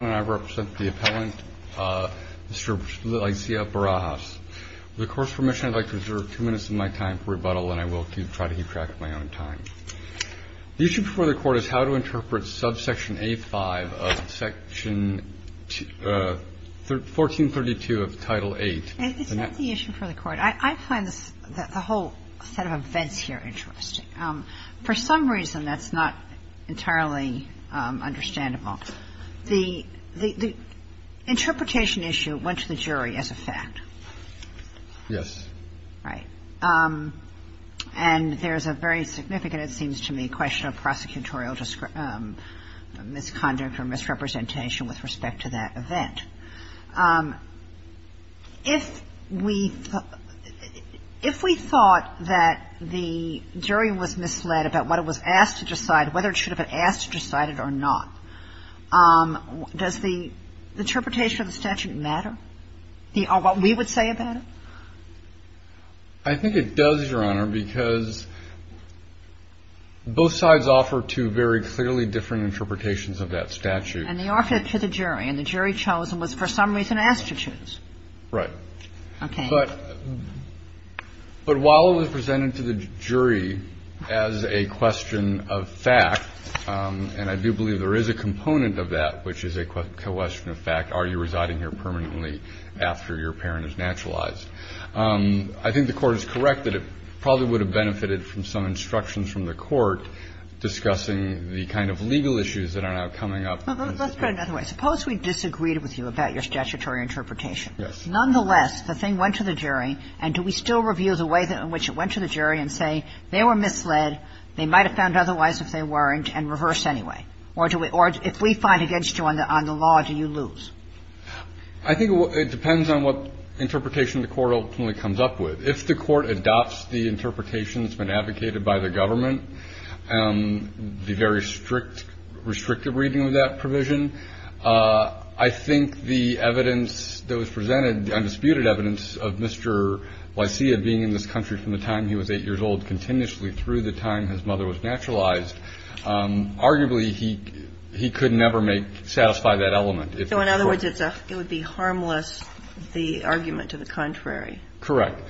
I represent the appellant, Mr. Licea-Barajas. With the Court's permission, I would like to reserve two minutes of my time for rebuttal, and I will try to keep track of my own time. The issue before the Court is how to interpret subsection A-5 of Section 1432 of Title VIII. It's not the issue for the Court. I find the whole set of events here interesting. For some reason, that's not entirely understandable. The interpretation issue went to the jury as a fact. Yes. Right. And there's a very significant, it seems to me, question of prosecutorial misconduct or misrepresentation with respect to that event. If we thought that the jury was misled about what it was asked to decide, whether it should have been asked to decide it or not, does the interpretation of the statute matter, what we would say about it? I think it does, Your Honor, because both sides offer two very clearly different interpretations of that statute. And they offered it to the jury, and the jury chose and was for some reason asked to choose. Right. Okay. But while it was presented to the jury as a question of fact, and I do believe there is a component of that which is a question of fact, are you residing here permanently after your parent is naturalized, I think the Court is correct that it probably would have benefited from some instructions from the Court discussing the kind of legal issues that are now coming up. Let's put it another way. Suppose we disagreed with you about your statutory interpretation. Yes. Nonetheless, the thing went to the jury, and do we still review the way in which it went to the jury and say, they were misled, they might have found otherwise if they weren't, and reverse anyway? Or do we or if we find against you on the law, do you lose? I think it depends on what interpretation the Court ultimately comes up with. If the Court adopts the interpretation that's been advocated by the government, the very strict, restrictive reading of that provision, I think the evidence that was presented, the undisputed evidence of Mr. Lysia being in this country from the time he was 8 years old continuously through the time his mother was naturalized, arguably he could never make, satisfy that element. So in other words, it would be harmless, the argument to the contrary. Correct.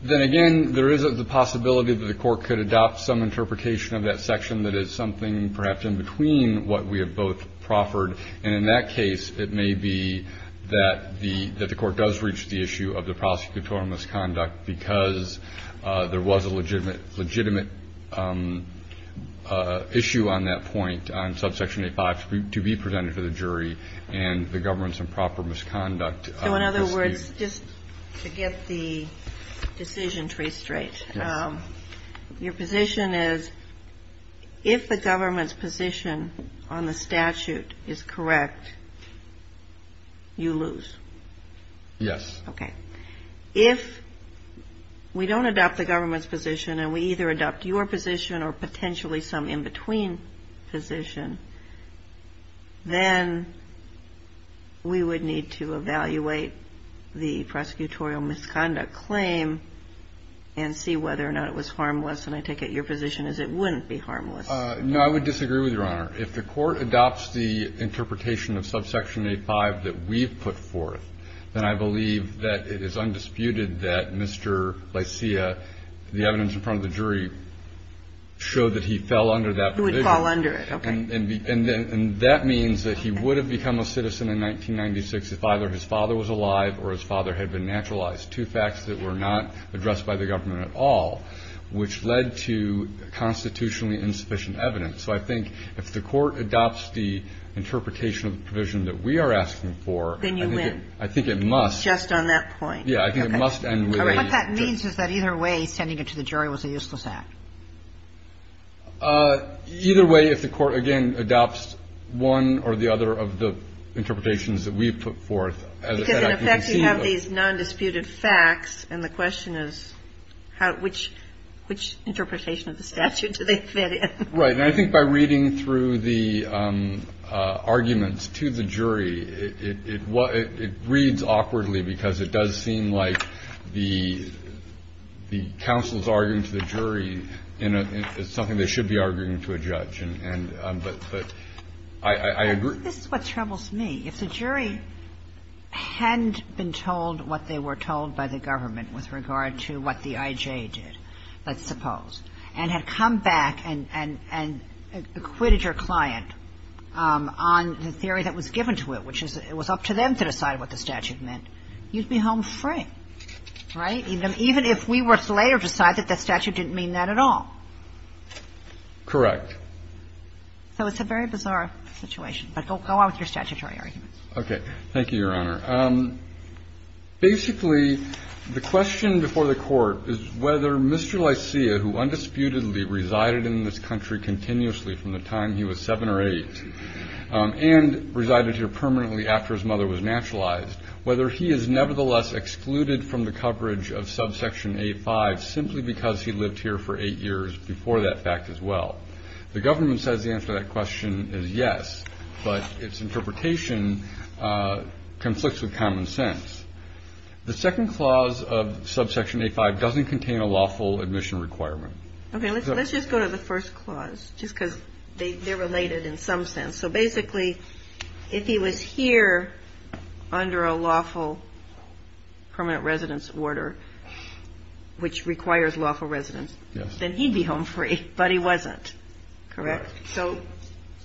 Then again, there is the possibility that the Court could adopt some interpretation of that section that is something perhaps in between what we have both proffered. And in that case, it may be that the Court does reach the issue of the prosecutorial misconduct because there was a legitimate issue on that point on subsection 85 to be presented to the jury and the government's improper misconduct. So in other words, just to get the decision tree straight, your position is that if the government's position on the statute is correct, you lose? Yes. Okay. If we don't adopt the government's position and we either adopt your position or potentially some in-between position, then we would need to evaluate the prosecutorial misconduct claim and see whether or not it was harmless. And I take it your position is it wouldn't be harmless. No, I would disagree with you, Your Honor. If the Court adopts the interpretation of subsection 85 that we've put forth, then I believe that it is undisputed that Mr. Lysia, the evidence in front of the jury, showed that he fell under that provision. He would fall under it, okay. And that means that he would have become a citizen in 1996 if either his father was alive or his father had been naturalized, two facts that were not addressed by the government at all, which led to constitutionally insufficient evidence. So I think if the Court adopts the interpretation of the provision that we are asking for, I think it must. Then you win. Just on that point. Yeah. I think it must end with a. All right. What that means is that either way, sending it to the jury was a useless act. Either way, if the Court, again, adopts one or the other of the interpretations that we've put forth, as I said, I can conceive of. Because, in effect, you have these nondisputed facts, and the question is how, which interpretation of the statute do they fit in? Right. And I think by reading through the arguments to the jury, it reads awkwardly because it does seem like the counsel's arguing to the jury is something they should be arguing to a judge. But I agree. This is what troubles me. If the jury hadn't been told what they were told by the government with regard to what the I.J. did, let's suppose, and had come back and acquitted your client on the theory that was given to it, which is it was up to them to decide what the statute meant, you'd be home free, right? Even if we were to later decide that that statute didn't mean that at all. Correct. So it's a very bizarre situation. But go on with your statutory arguments. Thank you, Your Honor. Basically, the question before the Court is whether Mr. Lysia, who undisputedly resided in this country continuously from the time he was 7 or 8 and resided here permanently after his mother was naturalized, whether he is nevertheless excluded from the coverage of subsection A-5 simply because he lived here for 8 years before that fact as well. The government says the answer to that question is yes. But its interpretation conflicts with common sense. The second clause of subsection A-5 doesn't contain a lawful admission requirement. Okay. Let's just go to the first clause just because they're related in some sense. So basically, if he was here under a lawful permanent residence order, which requires lawful residence, then he'd be home free, but he wasn't. Correct? Correct. So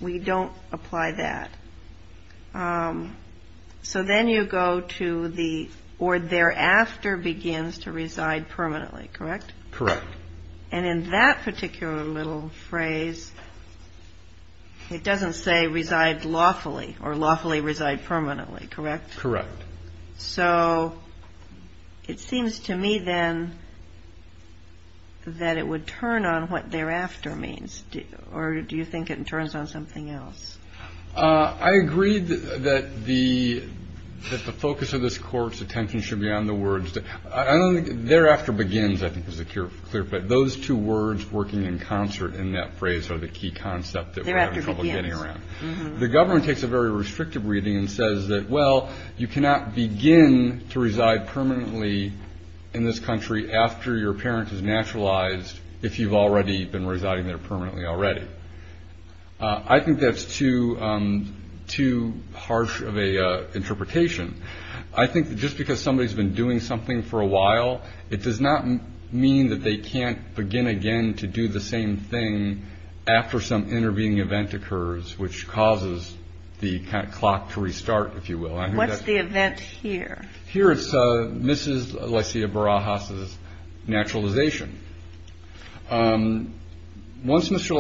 we don't apply that. So then you go to the or thereafter begins to reside permanently. Correct? Correct. And in that particular little phrase, it doesn't say reside lawfully or lawfully reside permanently. Correct? Correct. So it seems to me then that it would turn on what thereafter means. Or do you think it turns on something else? I agree that the focus of this Court's attention should be on the words. Thereafter begins, I think, is the clear, but those two words working in concert in that phrase are the key concept that we're having trouble getting around. The government takes a very restrictive reading and says that, well, you cannot begin to reside permanently in this country after your parent has naturalized, if you've already been residing there permanently already. I think that's too harsh of an interpretation. I think that just because somebody's been doing something for a while, it does not mean that they can't begin again to do the same thing after some intervening event occurs, which causes the clock to restart, if you will. What's the event here? Here it's Mrs. Lysia Barajas' naturalization. Once Mr.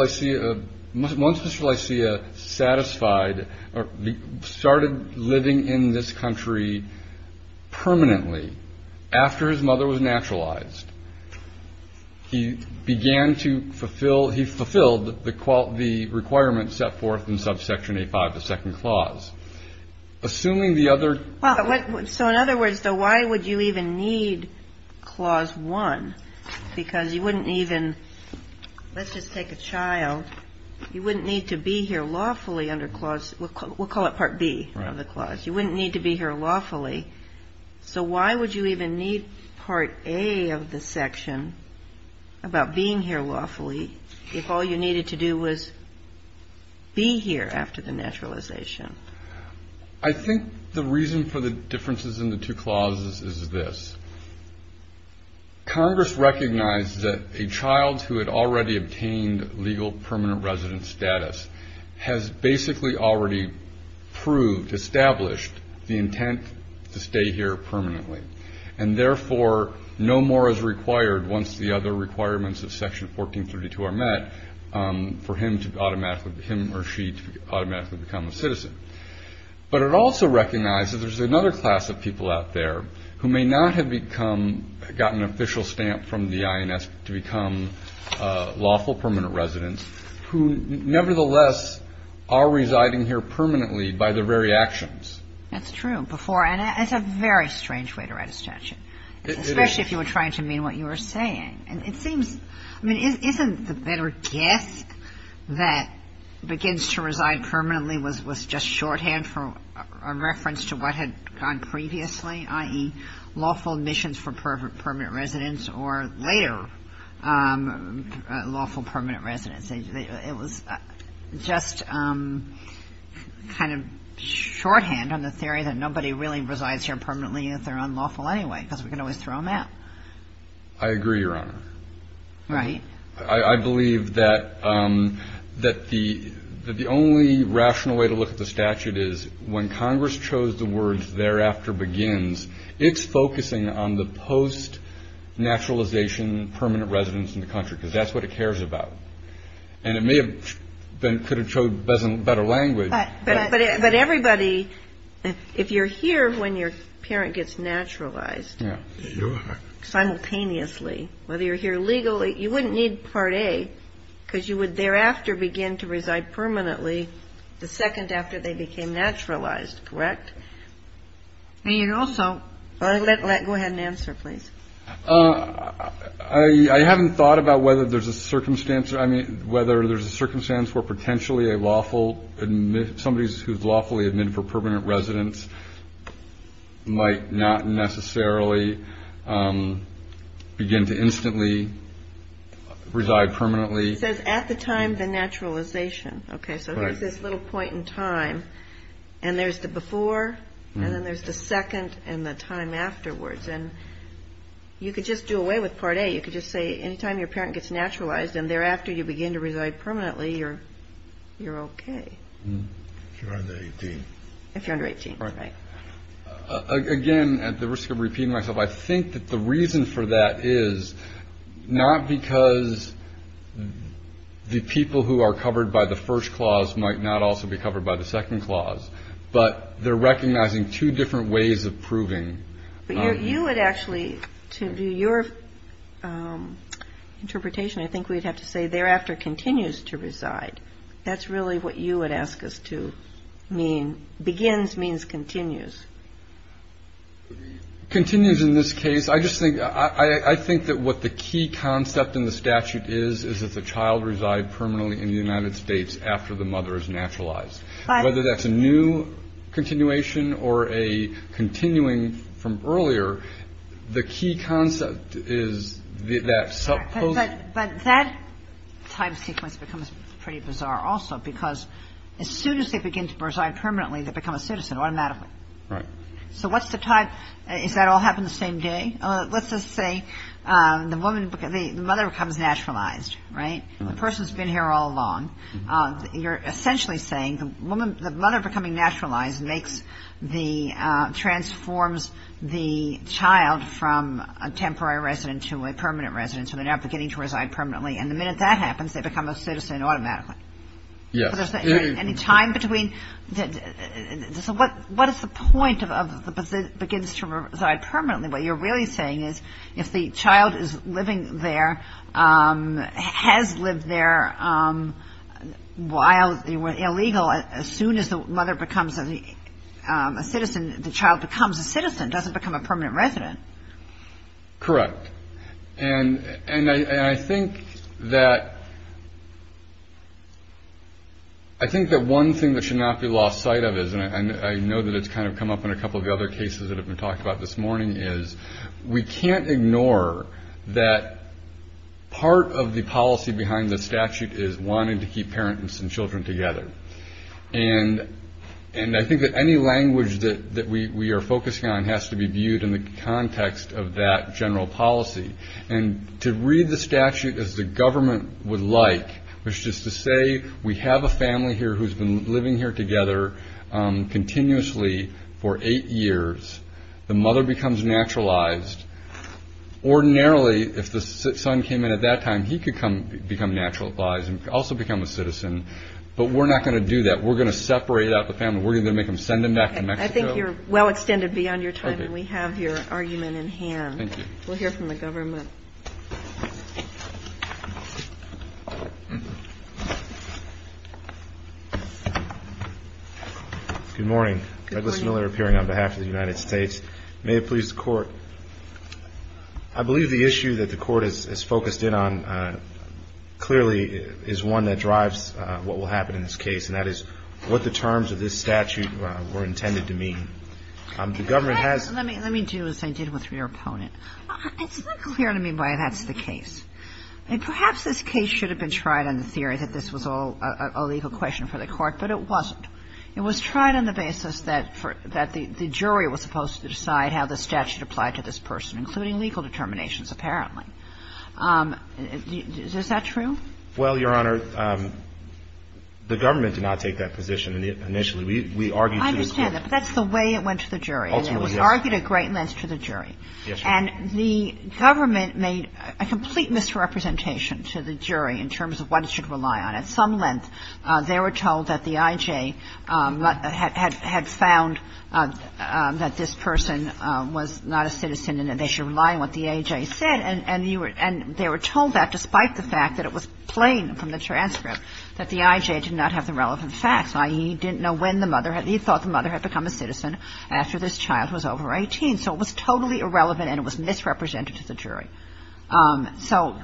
Lysia satisfied or started living in this country permanently, after his mother was naturalized, he began to fulfill, he fulfilled the requirements set forth in subsection A-5, the second clause. Assuming the other. So in other words, though, why would you even need clause one? Because you wouldn't even, let's just take a child. You wouldn't need to be here lawfully under clause, we'll call it part B of the clause. You wouldn't need to be here lawfully. So why would you even need part A of the section about being here lawfully if all you needed to do was be here after the naturalization? I think the reason for the differences in the two clauses is this. Congress recognized that a child who had already obtained legal permanent resident status has basically already proved, established the intent to stay here permanently, and therefore no more is required once the other requirements of section 1432 are met for him to automatically, for him or she to automatically become a citizen. But it also recognizes there's another class of people out there who may not have become, gotten an official stamp from the INS to become lawful permanent residents, who nevertheless are residing here permanently by their very actions. That's true. Before, and it's a very strange way to write a statute, especially if you were trying to mean what you were saying. And it seems, I mean, isn't the better guess that begins to reside permanently was just shorthand for a reference to what had gone previously, i.e., lawful admissions for permanent residents or later lawful permanent residents. It was just kind of shorthand on the theory that nobody really resides here permanently if they're unlawful anyway, because we can always throw them out. I agree, Your Honor. Right. I believe that the only rational way to look at the statute is when Congress chose the words, thereafter begins, it's focusing on the post-naturalization permanent residents in the country, because that's what it cares about. And it may have been, could have showed better language. But everybody, if you're here when your parent gets naturalized. Your Honor. Simultaneously. Whether you're here legally, you wouldn't need Part A, because you would thereafter begin to reside permanently the second after they became naturalized. Correct? And you'd also. Go ahead and answer, please. I haven't thought about whether there's a circumstance, I mean, whether there's a circumstance where potentially a lawful, somebody who's lawfully admitted for permanent residence might not necessarily begin to instantly reside permanently. It says at the time the naturalization. Okay. So here's this little point in time. And there's the before, and then there's the second, and the time afterwards. And you could just do away with Part A. You could just say any time your parent gets naturalized and thereafter you begin to reside permanently or you're okay. If you're under 18. If you're under 18. Right. Again, at the risk of repeating myself. I think that the reason for that is not because the people who are covered by the first clause might not also be covered by the second clause. But they're recognizing two different ways of proving. But you would actually, to do your interpretation, I think we'd have to say thereafter continues to reside. That's really what you would ask us to mean. Begins means continues. Continues in this case. I just think, I think that what the key concept in the statute is, is that the child reside permanently in the United States after the mother is naturalized. Whether that's a new continuation or a continuing from earlier, the key concept is that. But that time sequence becomes pretty bizarre also, because as soon as they begin to reside permanently, they become a citizen automatically. Right. So what's the time? Is that all happened the same day? Let's just say the mother becomes naturalized. Right. The person's been here all along. You're essentially saying the mother becoming naturalized makes the, transforms the child from a temporary resident to a permanent resident. So they're now beginning to reside permanently. And the minute that happens, they become a citizen automatically. Yes. Any time between. So what is the point of the, begins to reside permanently? What you're really saying is if the child is living there, has lived there while they were illegal, as soon as the mother becomes a citizen, the child becomes a citizen, doesn't become a permanent resident. Correct. And I think that, I think that one thing that should not be lost sight of is, and I know that it's kind of come up in a couple of the other cases that have been talked about this morning, is we can't ignore that part of the policy behind the statute is wanting to keep parents and children together. And I think that any language that we are focusing on has to be viewed in the context of that general policy. And to read the statute as the government would like, which is to say we have a family here who's been living here together continuously for eight years. The mother becomes naturalized. Ordinarily, if the son came in at that time, he could become naturalized and also become a citizen. But we're not going to do that. We're going to separate out the family. We're going to make them send them back to Mexico. I think you're well extended beyond your time and we have your argument in hand. Thank you. We'll hear from the government. Good morning. Douglas Miller, appearing on behalf of the United States. May it please the Court. I believe the issue that the Court has focused in on clearly is one that drives what will happen in this case, and that is what the terms of this statute were intended to mean. The government has Let me do as I did with your opponent. It's not clear to me why that's the case. And perhaps this case should have been tried on the theory that this was all a legal question for the Court, but it wasn't. It was tried on the basis that the jury was supposed to decide how the statute applied to this person, including legal determinations, apparently. Is that true? Well, Your Honor, the government did not take that position initially. We argued to include. I understand that. That's the way it went to the jury. Ultimately, yes. And it was argued at great length to the jury. Yes, Your Honor. And the government made a complete misrepresentation to the jury in terms of what it should rely on. At some length, they were told that the I.J. had found that this person was not a citizen and that they should rely on what the I.J. said. And they were told that despite the fact that it was plain from the transcript that the I.J. did not have the relevant facts, i.e., he didn't know when the mother had become a citizen after this child was over 18. So it was totally irrelevant and it was misrepresented to the jury. So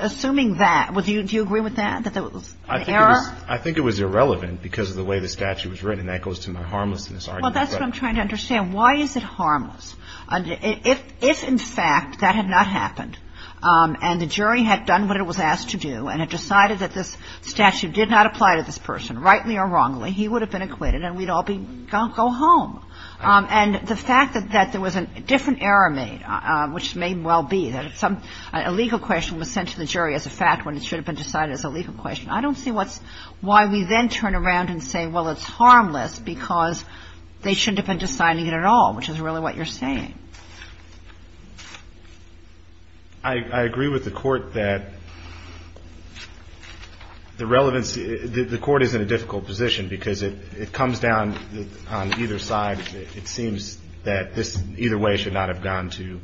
assuming that, do you agree with that, that there was an error? I think it was irrelevant because of the way the statute was written, and that goes to my harmlessness argument. Well, that's what I'm trying to understand. Why is it harmless? If in fact that had not happened and the jury had done what it was asked to do and had decided that this statute did not apply to this person, rightly or wrongly, he would have been acquitted and we'd all be gone, go home. And the fact that there was a different error made, which may well be that some illegal question was sent to the jury as a fact when it should have been decided as a legal question, I don't see what's why we then turn around and say, well, it's harmless because they shouldn't have been deciding it at all, which is really what you're saying. I agree with the Court that the relevance, the Court is in a difficult position because it comes down on either side. It seems that this either way should not have gone to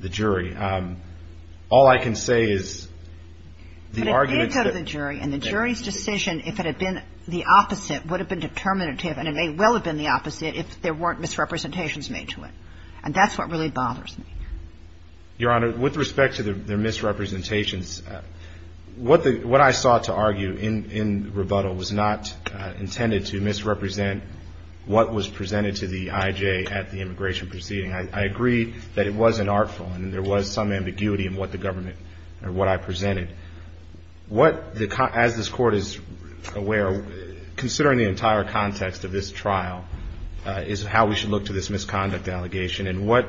the jury. All I can say is the argument that the jury and the jury's decision, if it had been the opposite, would have been determinative and it may well have been the opposite if there weren't misrepresentations made to it. And that's what really bothers me. Your Honor, with respect to their misrepresentations, what I sought to argue in rebuttal was not intended to misrepresent what was presented to the IJ at the immigration proceeding. I agree that it was unartful and there was some ambiguity in what the government or what I presented. As this Court is aware, considering the entire context of this trial is how we should look to this misconduct allegation. And what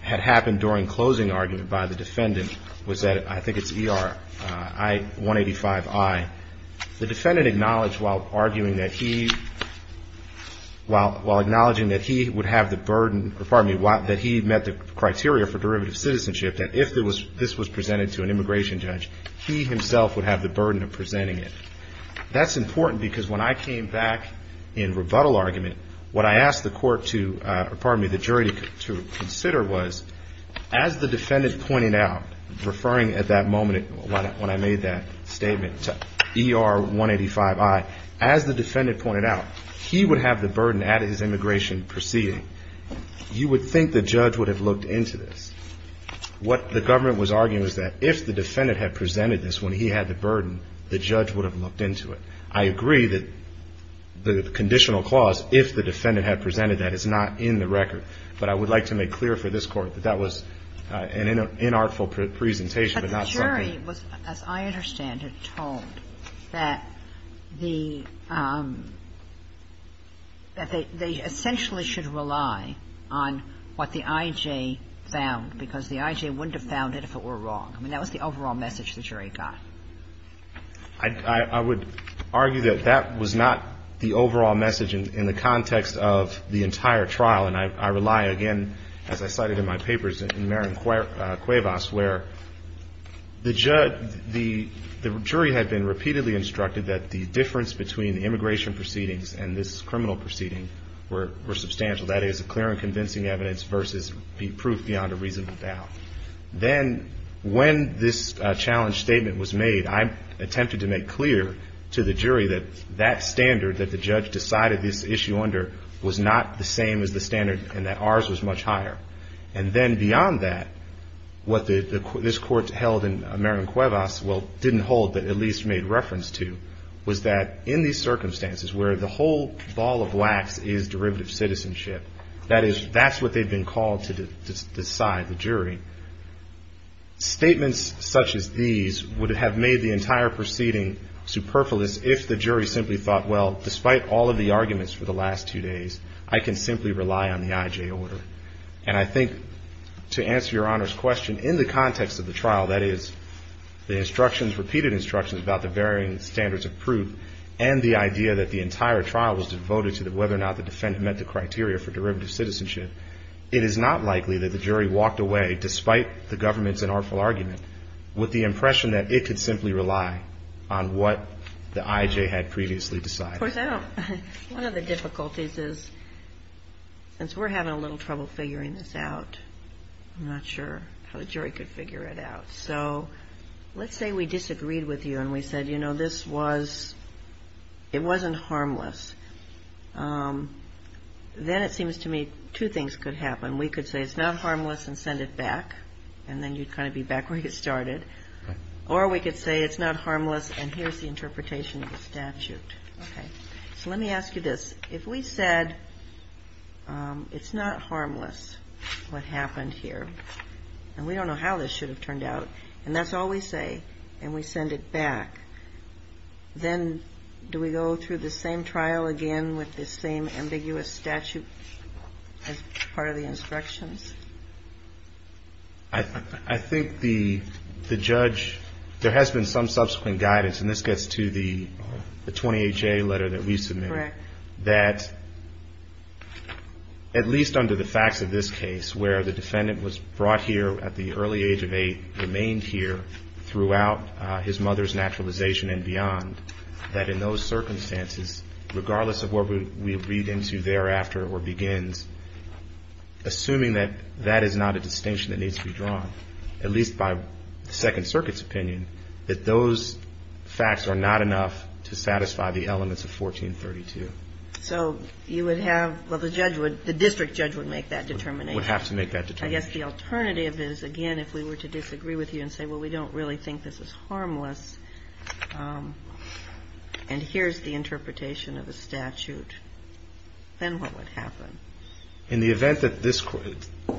had happened during closing argument by the defendant was that, I think while acknowledging that he would have the burden, or pardon me, that he met the criteria for derivative citizenship, that if this was presented to an immigration judge, he himself would have the burden of presenting it. That's important because when I came back in rebuttal argument, what I asked the jury to consider was, as the defendant pointed out, referring at that moment when I made that statement to ER-185I, as the defendant pointed out, he would have the burden at his immigration proceeding. You would think the judge would have looked into this. What the government was arguing was that if the defendant had presented this when he had the burden, the judge would have looked into it. I agree that the conditional clause, if the defendant had presented that, is not in the record. But I would like to make clear for this Court that that was an inartful presentation but not something. The jury was, as I understand it, told that the – that they essentially should rely on what the I.J. found, because the I.J. wouldn't have found it if it were wrong. I mean, that was the overall message the jury got. I would argue that that was not the overall message in the context of the entire trial. And I rely, again, as I cited in my papers, in Marin Cuevas, where the jury had been repeatedly instructed that the difference between immigration proceedings and this criminal proceeding were substantial, that is, clear and convincing evidence versus proof beyond a reasonable doubt. Then when this challenge statement was made, I attempted to make clear to the jury that that standard that the judge decided this issue under was not the same as the standard and that ours was much higher. And then beyond that, what this Court held in Marin Cuevas, well, didn't hold but at least made reference to, was that in these circumstances where the whole ball of wax is derivative citizenship, that is, that's what they've been called to decide, the jury, statements such as these would have made the entire proceeding superfluous if the jury simply thought, well, despite all of the arguments for the last two days, I can simply rely on the IJ order. And I think to answer Your Honor's question, in the context of the trial, that is, the instructions, repeated instructions about the varying standards of proof and the idea that the entire trial was devoted to whether or not the defendant met the criteria for derivative citizenship, it is not likely that the jury walked away, despite the government's inartful argument, with the impression that it could simply rely on what the IJ had previously decided. Of course, I don't. One of the difficulties is since we're having a little trouble figuring this out, I'm not sure how the jury could figure it out. So let's say we disagreed with you and we said, you know, this was, it wasn't harmless. Then it seems to me two things could happen. We could say it's not harmless and send it back, and then you'd kind of be back where you started. Or we could say it's not harmless and here's the interpretation of the statute. Okay. So let me ask you this. If we said it's not harmless, what happened here, and we don't know how this should have turned out, and that's all we say, and we send it back, then do we go through the same trial again with the same ambiguous statute as part of the instructions? I think the judge, there has been some subsequent guidance, and this gets to the 20HA letter that we submitted. Correct. That at least under the facts of this case where the defendant was brought here at the early age of 8, remained here throughout his mother's naturalization and beyond, that in those circumstances, regardless of what we read into thereafter or begins, assuming that that is not a distinction that needs to be drawn, at least by the Second Circuit's opinion, that those facts are not enough to satisfy the elements of 1432. So you would have, well, the judge would, the district judge would make that determination. Would have to make that determination. I guess the alternative is, again, if we were to disagree with you and say, well, we don't really think this is harmless, and here's the interpretation of a statute, then what would happen? In the event that this,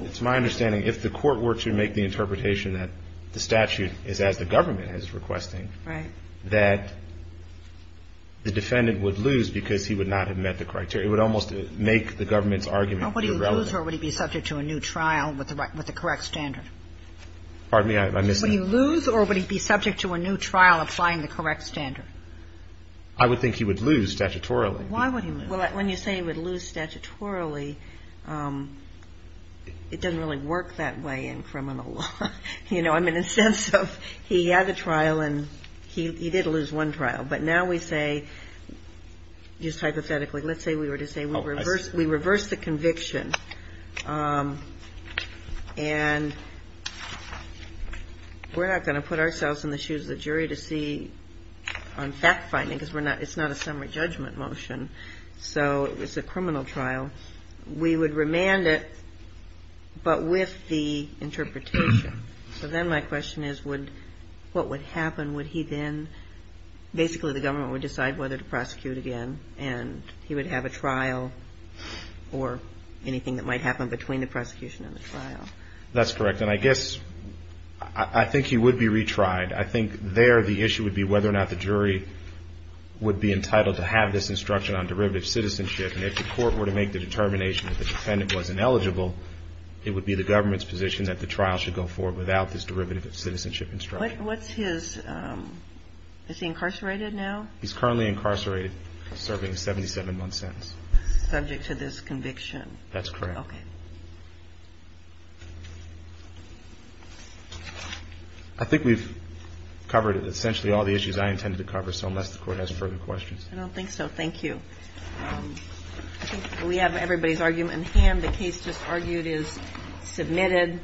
it's my understanding, if the court were to make the interpretation that the statute is as the government is requesting, that the defendant would lose because he would not have met the criteria. It would almost make the government's argument irrelevant. Would he lose or would he be subject to a new trial with the correct standard? Pardon me? I missed that. Would he lose or would he be subject to a new trial applying the correct standard? I would think he would lose statutorily. Why would he lose? Well, when you say he would lose statutorily, it doesn't really work that way in criminal law. You know, I mean, in the sense of he had the trial and he did lose one trial. But now we say, just hypothetically, let's say we were to say we reverse the conviction and we're not going to put ourselves in the shoes of the jury to see on fact-finding because it's not a summary judgment motion. So it's a criminal trial. We would remand it, but with the interpretation. So then my question is, what would happen? Would he then, basically the government would decide whether to prosecute again and he would have a trial or anything that might happen between the prosecution and the trial? That's correct. And I guess I think he would be retried. I think there the issue would be whether or not the jury would be entitled to have this instruction on derivative citizenship. And if the court were to make the determination that the defendant was ineligible, it would be the government's position that the trial should go forward without this derivative citizenship instruction. What's his, is he incarcerated now? He's currently incarcerated, serving a 77-month sentence. Subject to this conviction. That's correct. Okay. I think we've covered essentially all the issues I intended to cover, so unless the Court has further questions. I don't think so. Thank you. I think we have everybody's argument in hand. The case just argued is submitted.